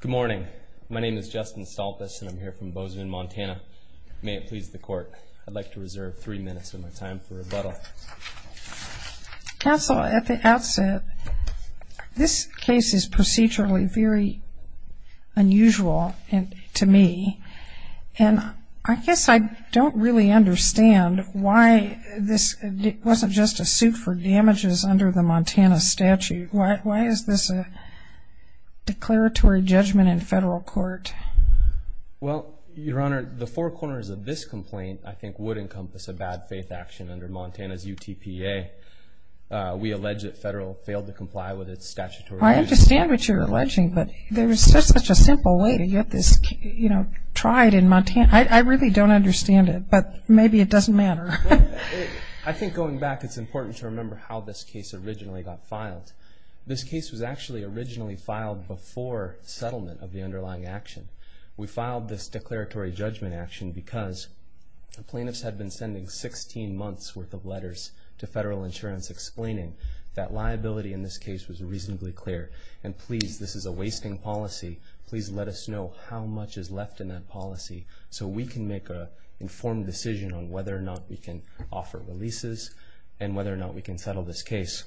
Good morning, my name is Justin Stolpes and I'm here from Bozeman, Montana. May it please the court, I'd like to reserve three minutes of my time for rebuttal. Counsel, at the outset, this case is procedurally very unusual to me and I guess I don't really understand why this wasn't just a suit for damages under the declaratory judgment in federal court. Well, Your Honor, the four corners of this complaint, I think, would encompass a bad faith action under Montana's UTPA. We allege that federal failed to comply with its statutory. I understand what you're alleging, but there was just such a simple way to get this, you know, tried in Montana. I really don't understand it, but maybe it doesn't matter. I think going back, it's important to remember how this case originally got filed. This case was actually originally filed before settlement of the underlying action. We filed this declaratory judgment action because the plaintiffs had been sending 16 months worth of letters to federal insurance explaining that liability in this case was reasonably clear. And please, this is a wasting policy. Please let us know how much is left in that policy so we can make an informed decision on whether or not we can offer releases and whether or not we can settle this case.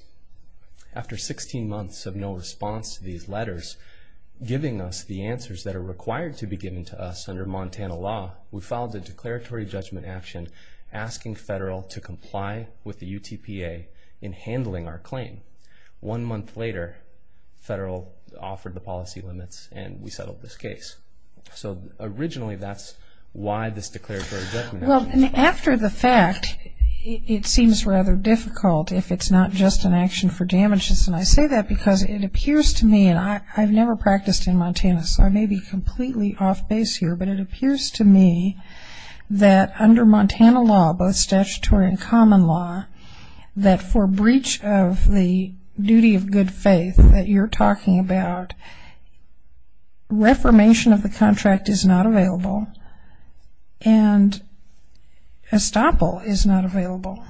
After 16 months of no response to these letters giving us the answers that are required to be given to us under Montana law, we filed a declaratory judgment action asking federal to comply with the UTPA in handling our claim. One month later, federal offered the policy limits and we settled this case. So originally, that's why this declaratory judgment action was filed. Well, after the fact, it seems rather difficult if it's not just an action for damages. And I say that because it appears to me, and I've never practiced in Montana so I may be completely off base here, but it appears to me that under Montana law, both statutory and common law, that for breach of the duty of good faith that you're talking about, reformation of the contract is not estoppel is not available.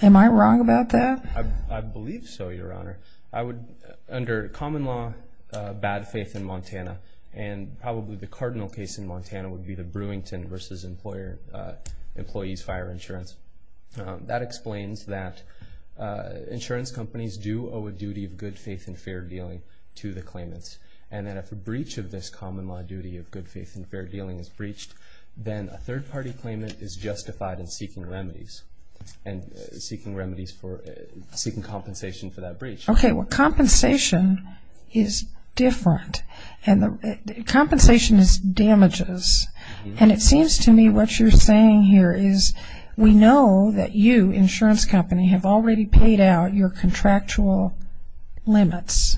Am I wrong about that? I believe so, Your Honor. I would, under common law, bad faith in Montana and probably the cardinal case in Montana would be the Brewington versus employer, employees fire insurance. That explains that insurance companies do owe a duty of good faith and fair dealing to the claimants. And that if a breach of this common law duty of good faith, the third party claimant is justified in seeking remedies and seeking remedies for seeking compensation for that breach. Okay. Well, compensation is different and the compensation is damages. And it seems to me what you're saying here is we know that you, insurance company, have already paid out your contractual limits,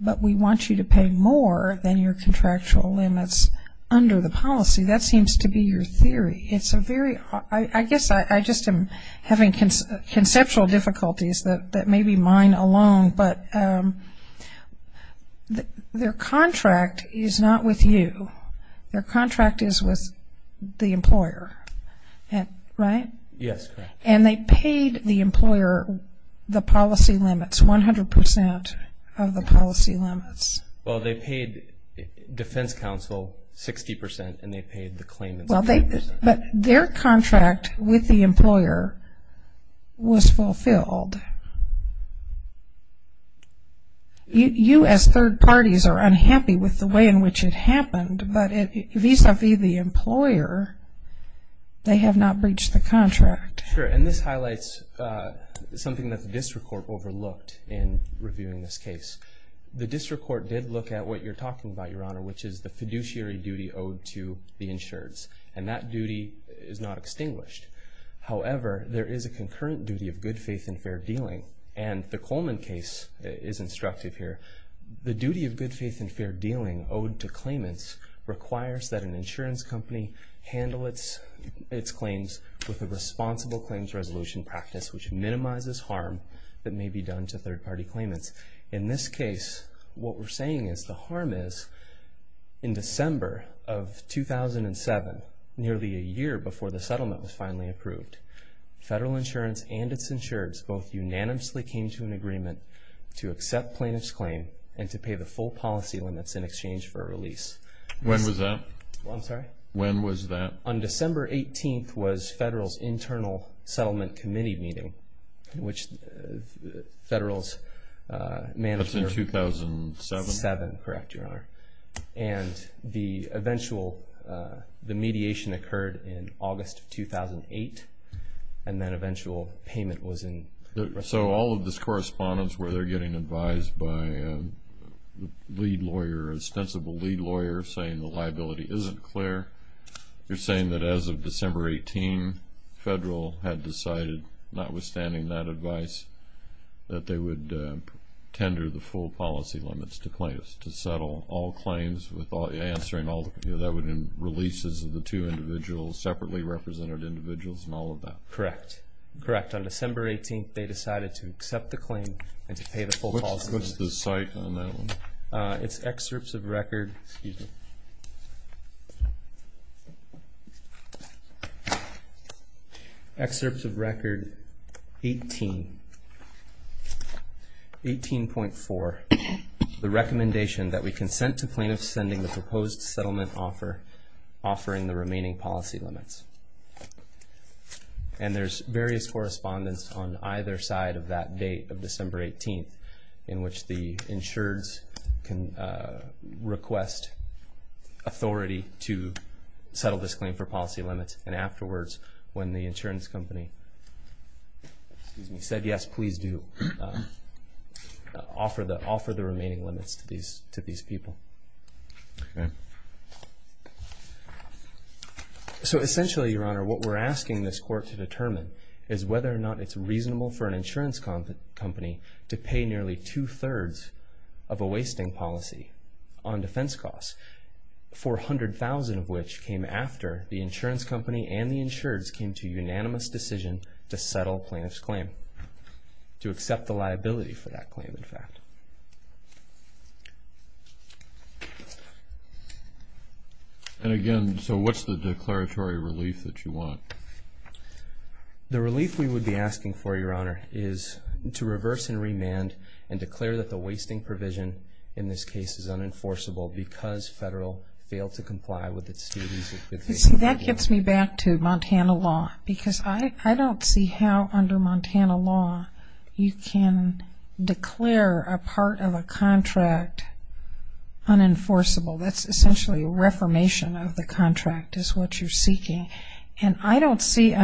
but we want you to pay more than your contractual limits under the policy. That seems to be your theory. It's a very, I guess I just am having conceptual difficulties that may be mine alone, but their contract is not with you. Their contract is with the employer, right? Yes, correct. And they paid the employer the policy limits, 100% of the policy limits. Well, they paid the claimant 60% and they paid the claimant 60%. But their contract with the employer was fulfilled. You as third parties are unhappy with the way in which it happened, but vis-a-vis the employer, they have not breached the contract. Sure. And this highlights something that the district court overlooked in reviewing this case. The district court did look at what you're duty owed to the insureds. And that duty is not extinguished. However, there is a concurrent duty of good faith and fair dealing. And the Coleman case is instructive here. The duty of good faith and fair dealing owed to claimants requires that an insurance company handle its claims with a responsible claims resolution practice, which minimizes harm that may be done to third parties. In December of 2007, nearly a year before the settlement was finally approved, Federal Insurance and its insureds both unanimously came to an agreement to accept plaintiff's claim and to pay the full policy limits in exchange for a release. When was that? I'm sorry? When was that? On December 18th was Federal's Internal Settlement Committee meeting, which Federal's manager... That's in 2007? 2007, correct, Your Honor. And the eventual, the mediation occurred in August of 2008. And that eventual payment was in... So all of this correspondence where they're getting advised by the lead lawyer, ostensible lead lawyer, saying the liability isn't clear. You're saying that as of December 18, Federal had decided, notwithstanding that advice, that they would tender the full policy limits to claimants to settle all claims with answering all... That would mean releases of the two individuals, separately represented individuals and all of that. Correct. Correct. On December 18th, they decided to accept the claim and to pay the full policy limits. What's the site on that one? It's excerpts of record... Excuse me. Excerpts of record 18. 18.4, the recommendation that we consent to plaintiffs sending the proposed settlement offer, offering the remaining policy limits. And there's various correspondence on either side of that date of December 18th, in which the plaintiff can request authority to settle this claim for policy limits. And afterwards, when the insurance company said, yes, please do, offer the remaining limits to these people. So essentially, Your Honor, what we're asking this court to determine is whether or not it's reasonable for an insurance company to pay nearly two percent of the wasting policy on defense costs, 400,000 of which came after the insurance company and the insureds came to unanimous decision to settle plaintiff's claim, to accept the liability for that claim, in fact. And again, so what's the declaratory relief that you want? The relief we would be asking for, Your Honor, is to reverse and remand and in this case is unenforceable because federal failed to comply with its duties. That gets me back to Montana law, because I don't see how under Montana law, you can declare a part of a contract unenforceable. That's essentially a reformation of the contract is what you're seeking. And I statute seems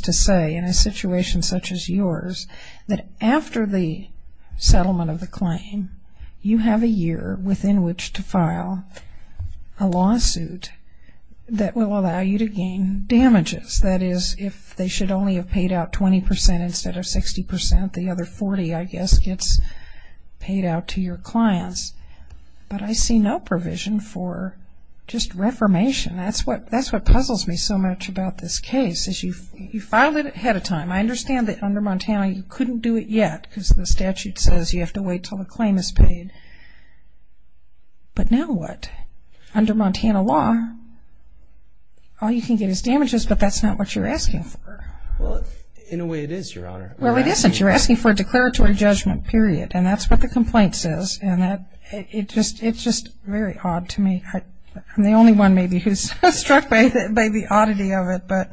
to say, in a situation such as yours, that after the settlement of the claim, you have a year within which to file a lawsuit that will allow you to gain damages. That is, if they should only have paid out 20 percent instead of 60 percent, the other 40, I guess, gets paid out to your clients. But I see no provision for just reformation. That's what puzzles me so much about this case, is you filed it ahead of time. I understand that under Montana, you couldn't do it yet, because the statute says you have to wait until the claim is paid. But now what? Under Montana law, all you can get is damages, but that's not what you're asking for. Well, in a way it is, Your Honor. Well, it isn't. You're asking for a declaratory judgment, period. And that's what the complaint says. And it's just very odd to me. I'm the only one, maybe, who's struck by the oddity of it.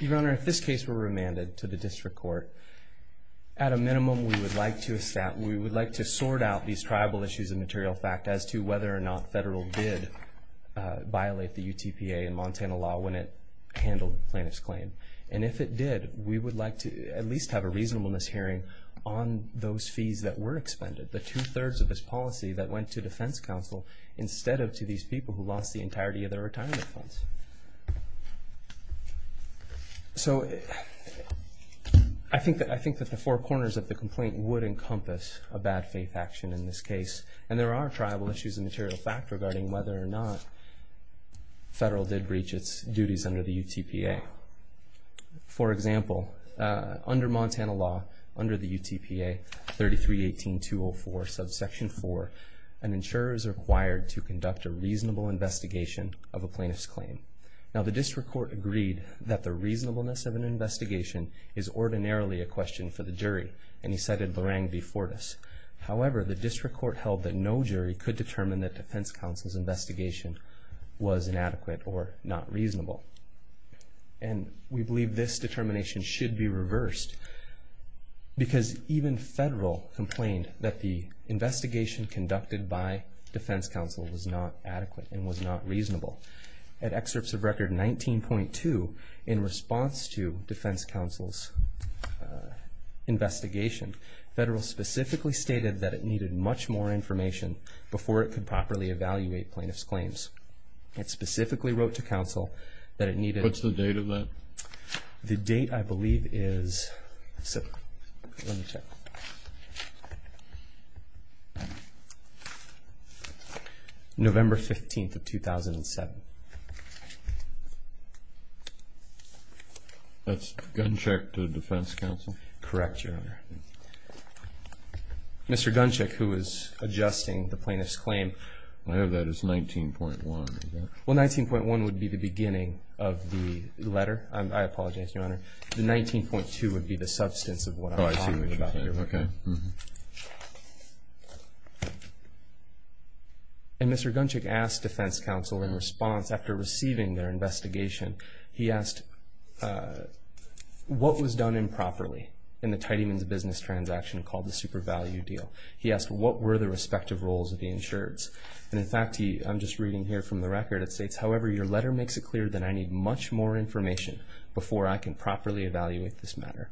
Your Honor, if this case were remanded to the district court, at a minimum, we would like to sort out these tribal issues and material fact as to whether or not federal did violate the UTPA and Montana law when it handled the plaintiff's claim. And if it did, we would like to at least have a reasonableness hearing on those fees that were expended, the two-thirds of this policy that went to defense counsel instead of to these people who lost the entirety of their retirement funds. So I think that the four corners of the complaint would encompass a bad faith action in this case. And there are tribal issues and material fact regarding whether or not federal did breach its duties under the UTPA. For example, under Montana law, under the UTPA 3318-204, subsection 4, an insurer is required to conduct a reasonable investigation of a plaintiff's claim. Now, the district court agreed that the reasonableness of an investigation is ordinarily a question for the jury, and he cited Larang v. Fortas. However, the district court held that no jury could determine that defense counsel's investigation was inadequate or not reasonable. And we believe this determination should be reversed because even federal complained that the investigation conducted by defense counsel was not adequate and was not reasonable. At excerpts of record 19.2, in response to defense counsel's investigation, federal specifically stated that it needed much more information before it could properly evaluate plaintiff's claims. It specifically wrote to counsel that it needed... What's the date of that? The date, I believe, is... Let me check. November 15th of 2007. That's gun check to defense counsel? Correct, Your Honor. Mr. Guncheck, who was adjusting the plaintiff's claim... I have that as 19.1, is that... Well, 19.1 would be the beginning of the letter. I apologize, Your Honor. The 19.2 would be the substance of what I'm talking about. Oh, I see what you're saying. Okay. And Mr. Guncheck asked defense counsel in response, after receiving their investigation, he asked, what was done improperly in the Tidyman's business transaction called the super value deal? He asked, what were the respective roles of the insureds? And in fact, I'm just reading here from the record, it states, however, your letter makes it clear that I need much more information before I can properly evaluate this matter.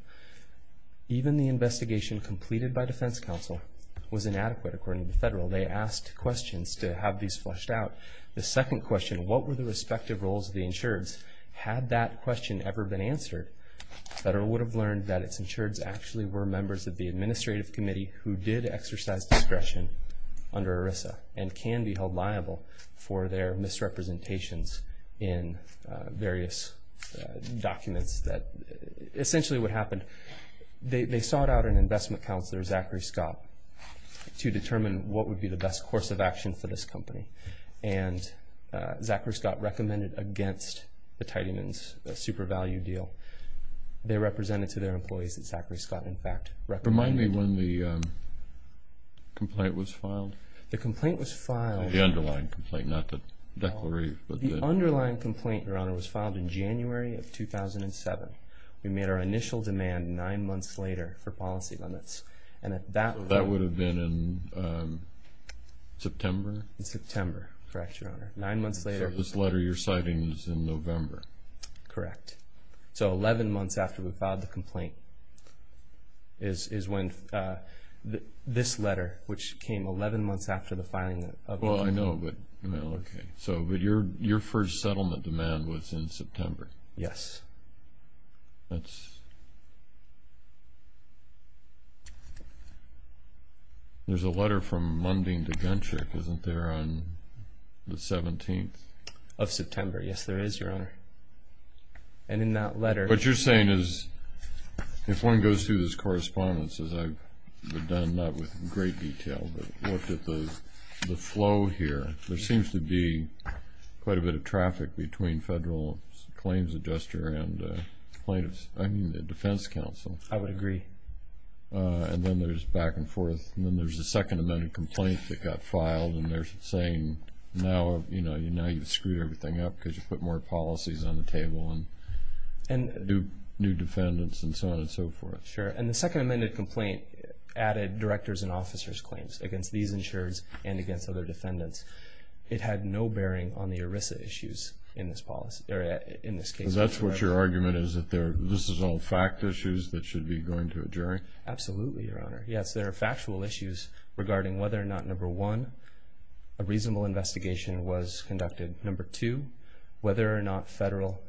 Even the investigation completed by defense counsel was inadequate, according to federal. They asked questions to have these flushed out. The second question, what were the respective roles of the insureds? Had that question ever been answered, federal would have learned that its insureds actually were members of the administrative committee who did exercise discretion under ERISA and can be held liable for their misrepresentations in various documents that... Essentially what happened, they sought out an investment counselor, Zachary Scott, to determine what would be the best course of action for this company. And Zachary Scott recommended against the Tidyman's super value deal. They represented to their employees that Zachary Scott, in fact, recommended... Remind me when the complaint was filed. The complaint was filed... The underlying complaint, not the declaration, but the... The underlying complaint, Your Honor, was filed in January of 2007. We made our initial demand nine months later for policy limits. And at that point... That would have been in September? In September, correct, Your Honor. Nine months later... So this letter you're citing is in November. Correct. So 11 months after we filed the complaint is when this letter, which came 11 months after the filing of the... Well, I know, but... Okay. But your first settlement demand was in September? Yes. That's... There's a letter from Munding to Gentryk, isn't there, on the 17th? Of September. Yes, there is, Your Honor. And in that letter... What you're saying is, if one goes through this correspondence, as I've done, not with great detail, but looked at the flow here, there seems to be quite a bit of traffic between Federal Claims Adjuster and plaintiffs... I mean, the Defense Council. I would agree. And then there's back and forth, and then there's a second amended complaint that got filed, and they're saying, now you've screwed everything up because you put more policies on the table, and new defendants, and so on and so forth. Sure. And the second amended complaint added directors and officers' claims against these insureds and against other defendants. It had no bearing on the ERISA issues in this policy... In this case... Because that's what your argument is, that this is all fact issues that should be going to a jury? Absolutely, Your Honor. Yes, there are factual issues regarding whether or not number one, a reasonable investigation was conducted. Number two, whether or not Federal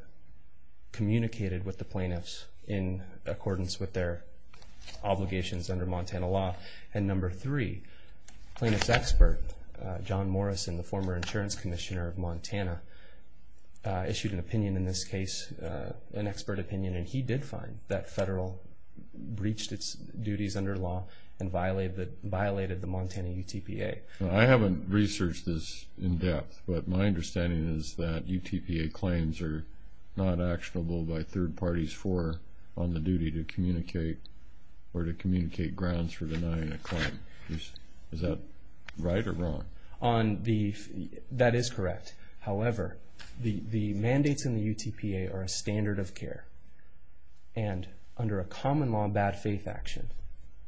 communicated with the plaintiffs in accordance with their obligations under Montana law. And number three, plaintiff's expert, John Morrison, the former Insurance Commissioner of Montana, issued an opinion in this case, an expert opinion, and he did find that Federal breached its duties under law and violated the Montana UTPA. I haven't researched this in depth, but my understanding is that UTPA claims are not actionable by third parties for... On the duty to communicate or to communicate grounds for denying a claim. Is that right or wrong? On the... That is correct. However, the mandates in the UTPA are a standard of care. And under a common law, bad faith action,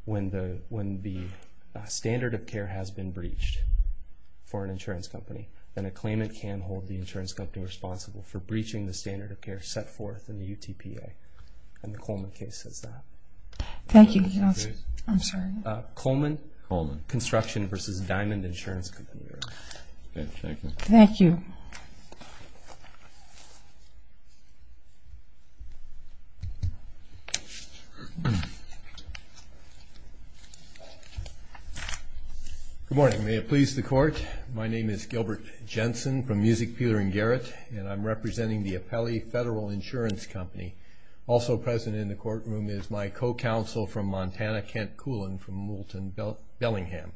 when the standard of care has been breached for an insurance company, then a claimant can hold the insurance company responsible for breaching the standard of care set forth in the UTPA. And the Coleman case says that. Thank you. I'm sorry. Coleman? Coleman. Construction versus Diamond Insurance Company, Your Honor. Okay, thank you. Thank you. Good morning. May it please the court. My name is Gilbert Jensen from Music Peeler and Garrett, and I'm representing the Apelli Federal Insurance Company. Also present in the courtroom is my co-counsel from Montana, Kent Coulin from Moulton Bellingham.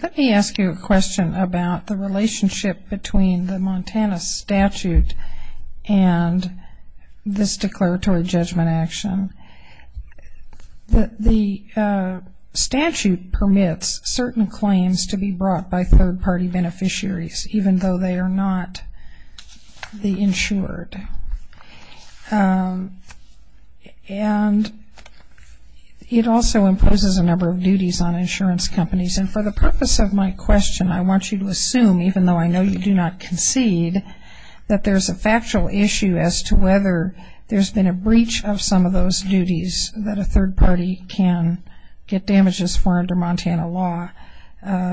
Let me ask you a question about the relationship between the Montana statute and this declaratory judgment action. The statute permits certain claims to be brought by third party beneficiaries, even though they are not the insured. And it also imposes a number of duties on insurance companies. And for the purpose of my question, I want you to assume, even though I know you do not concede, that there's a factual issue as to whether there's been a breach of some of those duties that a third party can get damages for under Montana law.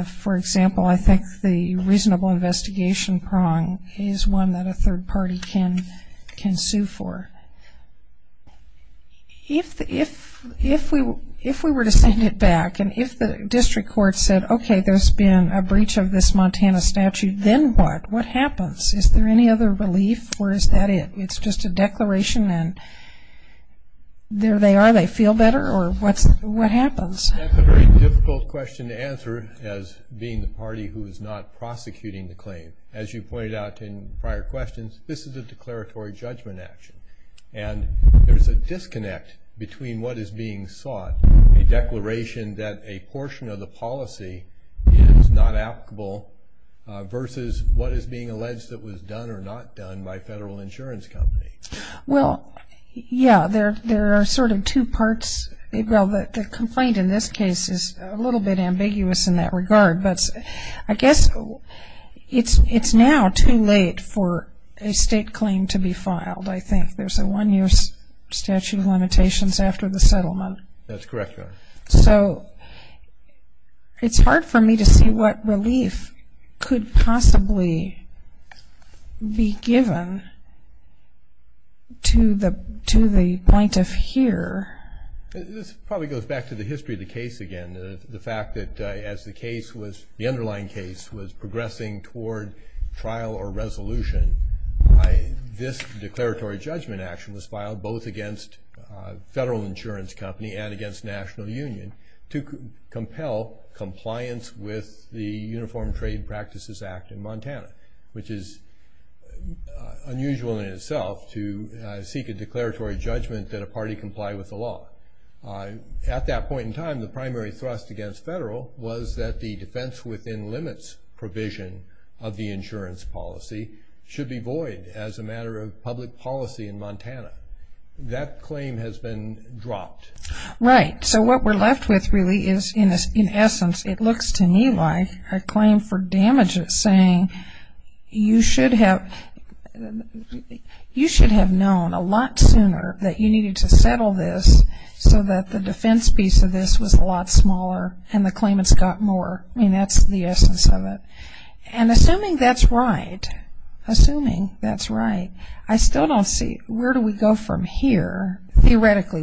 For example, I think the reasonable investigation prong is one that a third party can sue for. If we were to send it back, and if the district court said, okay, there's been a breach of this Montana statute, then what? What happens? Is there any other relief, or is that it? It's just a declaration, and there they are, they feel better, or what happens? That's a very difficult question to answer, as being the party who is not prosecuting the claim. As you pointed out in prior questions, this is a declaratory judgment action. And there's a disconnect between what is being sought, a declaration that a portion of the policy is not applicable, versus what is being alleged that was done or not done by federal insurance company. Well, yeah, there are sort of two parts. Well, the complaint in this case is a little bit ambiguous in that regard, but I guess it's now too late for a state claim to be filed, I think. There's a one year statute of limitations after the settlement. That's correct, Your Honor. So it's hard for me to see what relief could possibly be given to the point of here. This probably goes back to the history of the case again, the fact that as the case was, the underlying case was progressing toward trial or resolution, this declaratory judgment action was filed both against federal insurance company and against National Union to compel compliance with the Uniform Trade Practices Act in Montana, which is unusual in itself to seek a declaratory judgment that a party comply with the law. At that point in time, the primary thrust against federal was that the defense within limits provision of the insurance policy should be void as a matter of public policy in Montana. That claim has been dropped. Right. So what we're left with really is, in essence, it looks to me like a claim for damages, saying you should have known a lot sooner that you needed to settle this so that the defense piece of this was a lot smaller and the claimants got more. I mean, that's the essence of it. And assuming that's right, assuming that's right, I still don't see where do we go from here? Theoretically,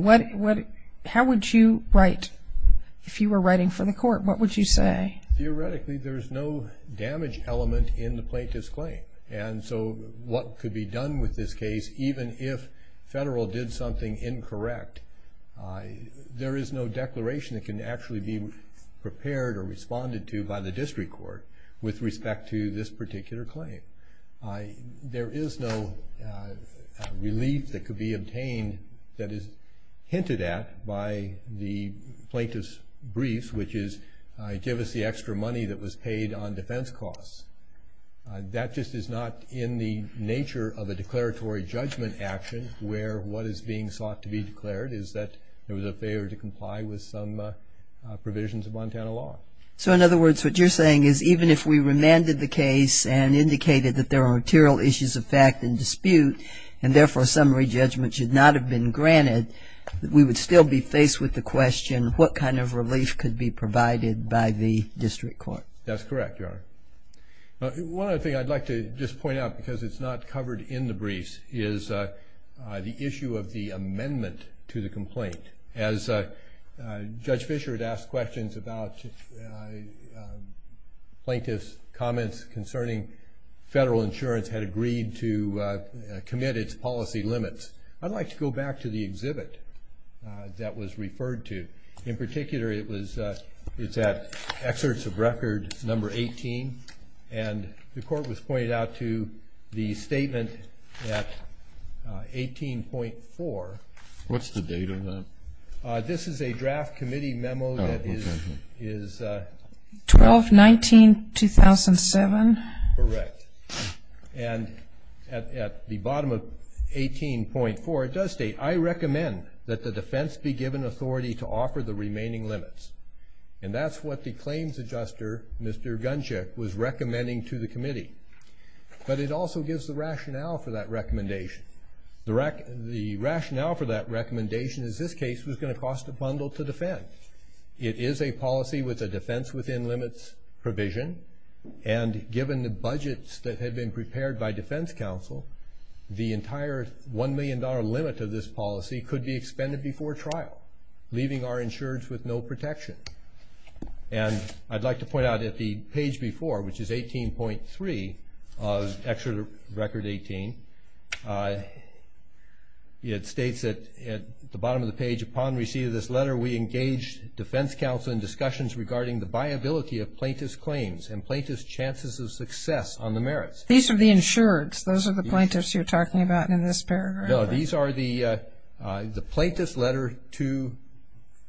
how would you write? If you were writing for the court, what would you say? Theoretically, there's no damage element in the plaintiff's claim. And so what could be done with this case, even if federal did something incorrect, there is no declaration that can actually be prepared or with respect to this particular claim. There is no relief that could be obtained that is hinted at by the plaintiff's briefs, which is give us the extra money that was paid on defense costs. That just is not in the nature of a declaratory judgment action where what is being sought to be declared is that there was a failure to comply with some provisions of Montana law. So, in other words, what you're saying is even if we remanded the case and indicated that there are material issues of fact and dispute, and therefore a summary judgment should not have been granted, we would still be faced with the question what kind of relief could be provided by the district court? That's correct, Your Honor. One other thing I'd like to just point out, because it's not covered in the briefs, is the issue of the amendment to the complaint. As Judge Fischer had asked questions about plaintiff's comments concerning federal insurance had agreed to commit its policy limits, I'd like to go back to the exhibit that was referred to. In particular, it's at excerpts of record number 18, and the court was pointed out to the statement at 18.4. What's the date on that? This is a draft committee memo that is... 12-19-2007. Correct. And at the bottom of 18.4, it does state, I recommend that the defense be given authority to offer the remaining limits. And that's what the claims adjuster, Mr. Guncheck, was recommending to the committee. But it also gives the recommendation is this case was going to cost a bundle to defend. It is a policy with a defense within limits provision, and given the budgets that have been prepared by defense counsel, the entire $1 million limit of this policy could be expended before trial, leaving our insurance with no protection. And I'd like to point out at the page before, which is 18.3 of excerpt of record 18, it states at the bottom of the page, upon receipt of this letter, we engaged defense counsel in discussions regarding the viability of plaintiff's claims and plaintiff's chances of success on the merits. These are the insureds. Those are the plaintiffs you're talking about in this paragraph. No, these are the plaintiff's letter to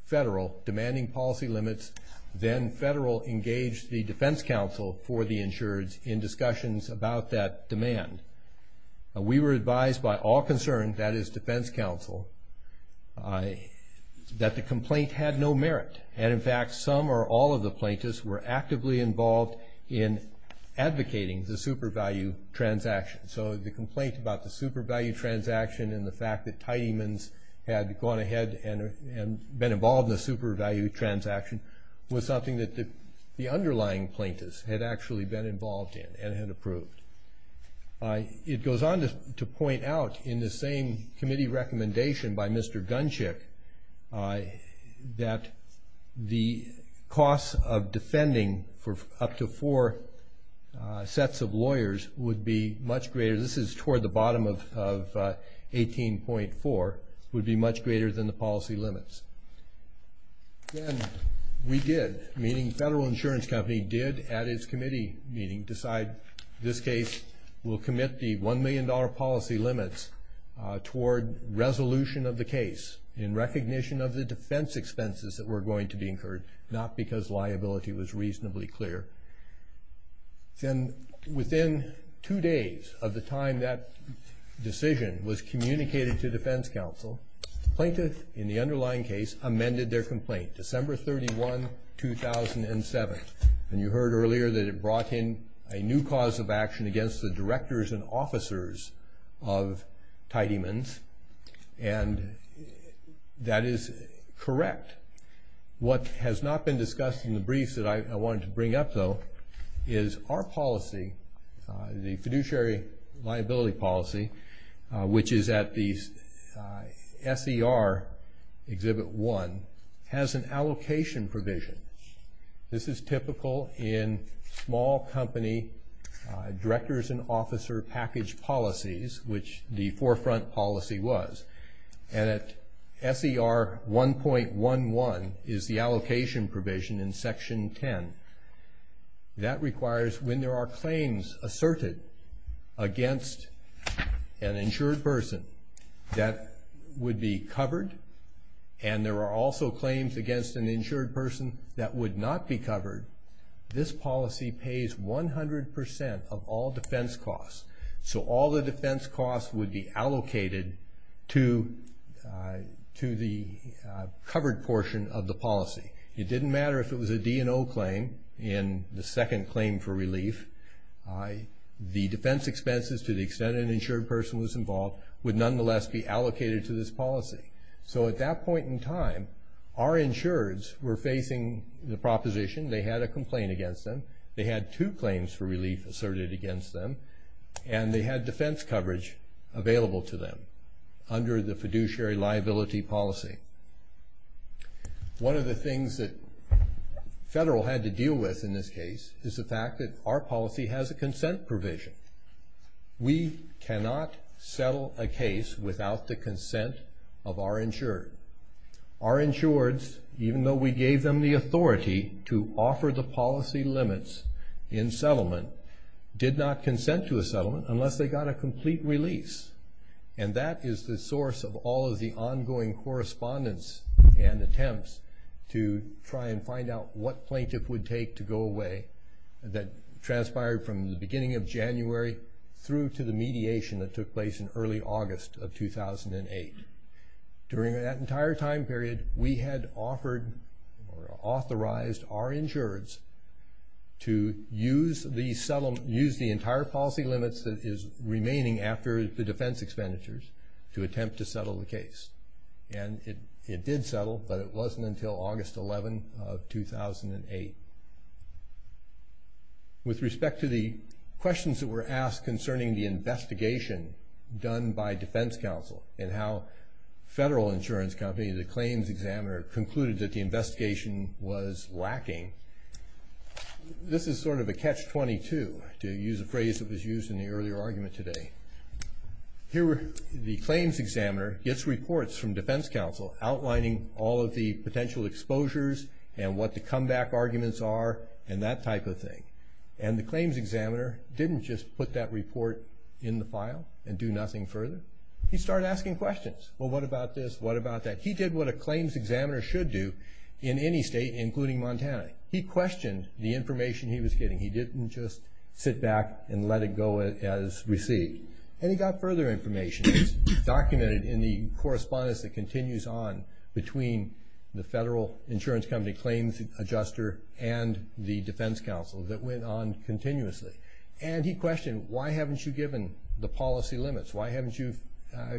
federal demanding policy limits. Then federal engaged the defense counsel for the insureds in discussions about that demand. We were advised by all concerned, that is defense counsel, that the complaint had no merit. And in fact, some or all of the plaintiffs were actively involved in advocating the super value transaction. So the complaint about the super value transaction and the fact that Tidyman's had gone ahead and been involved in the super value transaction was something that the underlying plaintiffs had actually been involved in and had approved. It goes on to point out in the same committee recommendation by Mr. Gunshick, that the costs of defending for up to four sets of lawyers would be much greater. This is toward the bottom of 18.4, would be much greater than the policy limits. Then we did, meaning federal insurance company, did at its committee meeting decide this case will commit the $1 million policy limits toward resolution of the case in recognition of the defense expenses that were going to be incurred, not because liability was reasonably clear. Then within two days of the time that decision was communicated to defense counsel, plaintiff in the underlying case amended their complaint, December 31, 2007. And you heard earlier that it brought in a new cause of action against the directors and officers of Tidyman's. And that is correct. What has not been discussed in the briefs that I wanted to bring up though, is our policy, the fiduciary liability policy, which is at the SER Exhibit 1, has an allocation provision. This is typical in small company directors and officer package policies, which the forefront policy was. And at SER 1.11 is the allocation provision in Section 10. That requires when there are claims asserted against an insured person that would be covered, and there are also claims against an insured person that would not be covered, this policy pays 100% of all defense costs. So all the defense costs would be allocated to the covered portion of the policy. It didn't matter if it was a D&O claim in the second claim for relief. The defense expenses to the extent an insured person was involved would nonetheless be allocated to this policy. So at that point in time, our insureds were facing the proposition, they had a complaint against them, they had two claims for relief asserted against them, and they had defense coverage available to them under the fiduciary liability policy. One of the things that Federal had to deal with in this case is the fact that our policy has a consent provision. We cannot settle a case without the consent of our insured. Our insureds, even though we gave them the authority to offer the policy limits in settlement, did not consent to a settlement unless they got a complete release. And that is the source of all of the ongoing correspondence and attempts to try and find out what plaintiff would take to go away that transpired from the beginning of January through to the mediation that took place in early August of 2008. During that entire time period, we had offered or authorized our insureds to use the entire policy limits that is remaining after the defense expenditures to attempt to settle the case. And it did settle, but it wasn't until August 11 of 2008. With respect to the questions that were asked concerning the investigation done by defense counsel and how Federal insurance company, the claims examiner, concluded that the investigation was lacking. This is sort of a catch-22, to use a phrase that was used in the earlier argument today. Here, the claims examiner gets reports from defense counsel outlining all of the potential exposures and what the comeback arguments are and that type of thing. And the claims examiner didn't just put that report in the file and do nothing further. He started asking questions. Well, what about this? What about that? He did what a claims examiner should do in any state, including Montana. He questioned the information he was getting. He didn't just sit back and let it go as received. And he got further information. It's documented in the correspondence that continues on between the Federal insurance company claims adjuster and the defense counsel that went on continuously. And he questioned, why haven't you given the policy limits? Why haven't you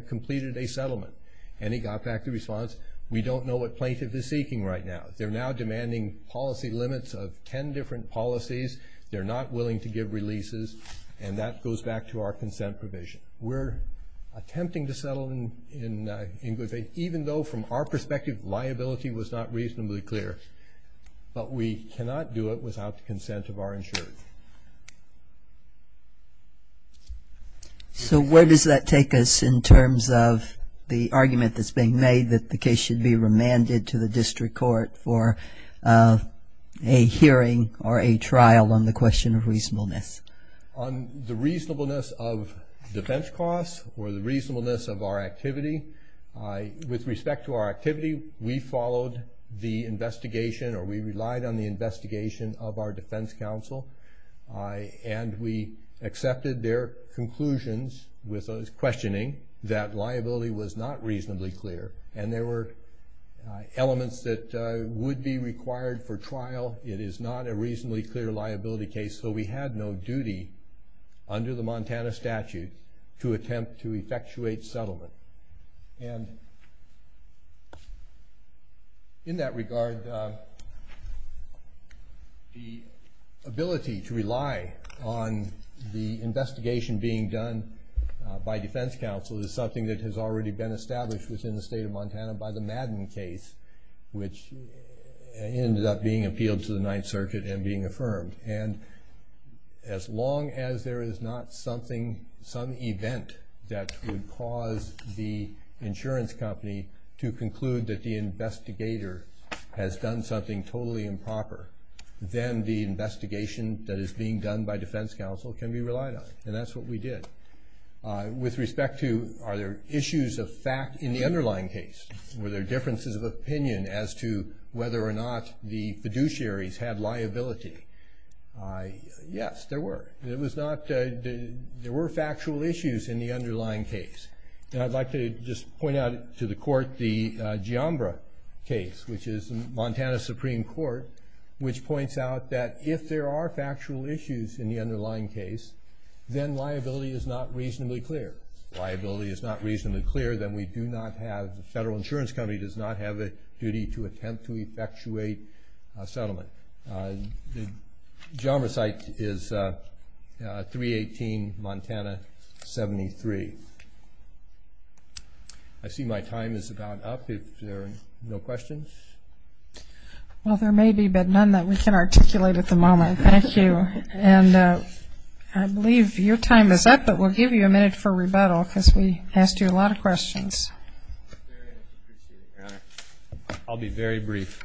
completed a settlement? And he got back the response, we don't know what plaintiff is seeking right now. They're now demanding policy limits of ten different policies. They're not willing to give releases. And that goes back to our consent provision. We're attempting to settle in good faith, even though, from our perspective, liability was not reasonably clear. But we cannot do it without the argument that's being made that the case should be remanded to the district court for a hearing or a trial on the question of reasonableness. On the reasonableness of defense costs or the reasonableness of our activity, with respect to our activity, we followed the investigation or we relied on the investigation of our defense counsel. And we accepted their conclusions with questioning that liability was not reasonably clear. And there were elements that would be required for trial. It is not a reasonably clear liability case. So we had no duty under the Montana statute to attempt to effectuate settlement. And in that regard, the ability to rely on the investigation being done by defense counsel is something that has already been established within the state of Montana by the Madden case, which ended up being appealed to the Ninth Circuit and being the insurance company to conclude that the investigator has done something totally improper. Then the investigation that is being done by defense counsel can be relied on. And that's what we did. With respect to, are there issues of fact in the underlying case? Were there differences of opinion as to whether or not the fiduciaries had liability? Yes, there were. There were factual issues in the underlying case. And I'd like to just point out to the court the Giambra case, which is the Montana Supreme Court, which points out that if there are factual issues in the underlying case, then liability is not reasonably clear. Liability is not reasonably clear, then we do not have, the federal insurance company does not have a duty to attempt to effectuate a settlement. The Giambra site is 318 Montana 73. I see my time is about up if there are no questions. Well, there may be but none that we can articulate at the moment. Thank you. And I believe your time is up, but we'll give you a minute for rebuttal because we asked you a lot of questions. I'll be very brief.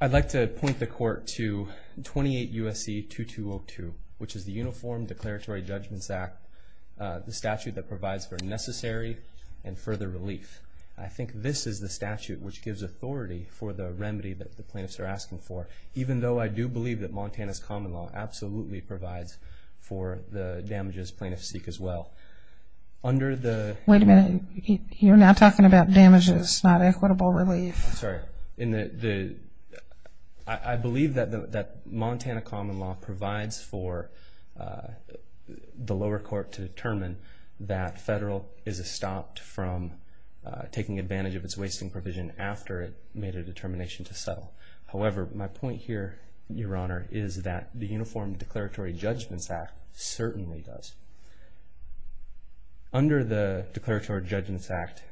I'd like to point the court to 28 U.S.C. 2202, which is the Uniform Declaratory Judgments Act, the statute that provides for necessary and further relief. I think this is the statute which gives authority for the remedy that the plaintiffs are asking for, even though I do believe that Montana's common law absolutely provides for the damages plaintiffs seek as well. Under the... Wait a minute, you're now talking about damages, not equitable relief. I'm sorry. I believe that Montana common law provides for the lower court to determine that federal is estopped from taking advantage of its wasting provision after it made a determination to settle. However, my point here, Your Honor, is that the Uniform Declaratory Judgments Act certainly does. Under the Declaratory Judgments Act,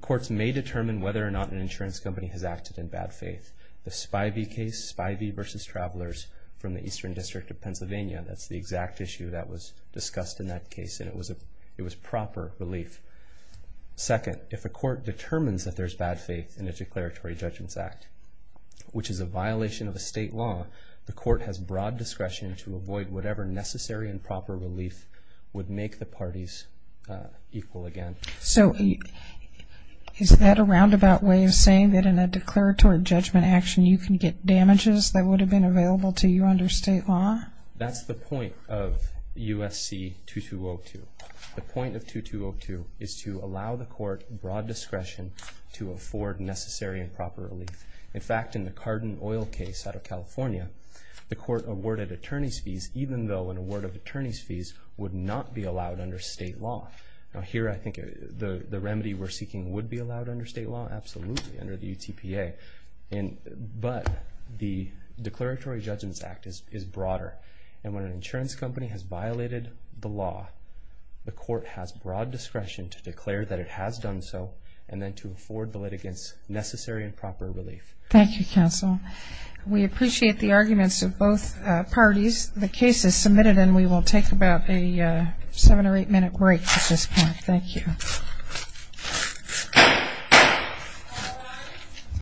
courts may determine whether or not an insurance company has acted in bad faith. The Spivey case, Spivey v. Travelers from the Eastern District of Pennsylvania, that's the exact issue that was discussed in that case, and it was proper relief. Second, if a court determines that there's bad faith in a Declaratory Judgments Act, which is a violation of a state law, the court has broad discretion to avoid whatever necessary and proper relief would make the parties equal again. So, is that a roundabout way of saying that in a Declaratory Judgment Action you can get damages that would have been available to you under state law? That's the point of U.S.C. 2202. The point of 2202 is to allow the court broad discretion to afford necessary and proper relief. In fact, in the Cardin Oil Case out of California, the court awarded attorney's fees even though an award of attorney's fees would not be allowed under state law. Now, here, I think the remedy we're seeking would be allowed under state law, absolutely, under the UTPA, but the Declaratory Judgments Act is broader, and when an insurance company has violated the law, the court has broad discretion to declare that it has done so, and then to afford the litigants necessary and proper relief. We appreciate the arguments of both parties. The case is submitted, and we will take about a seven or eight minute break at this point. Thank you.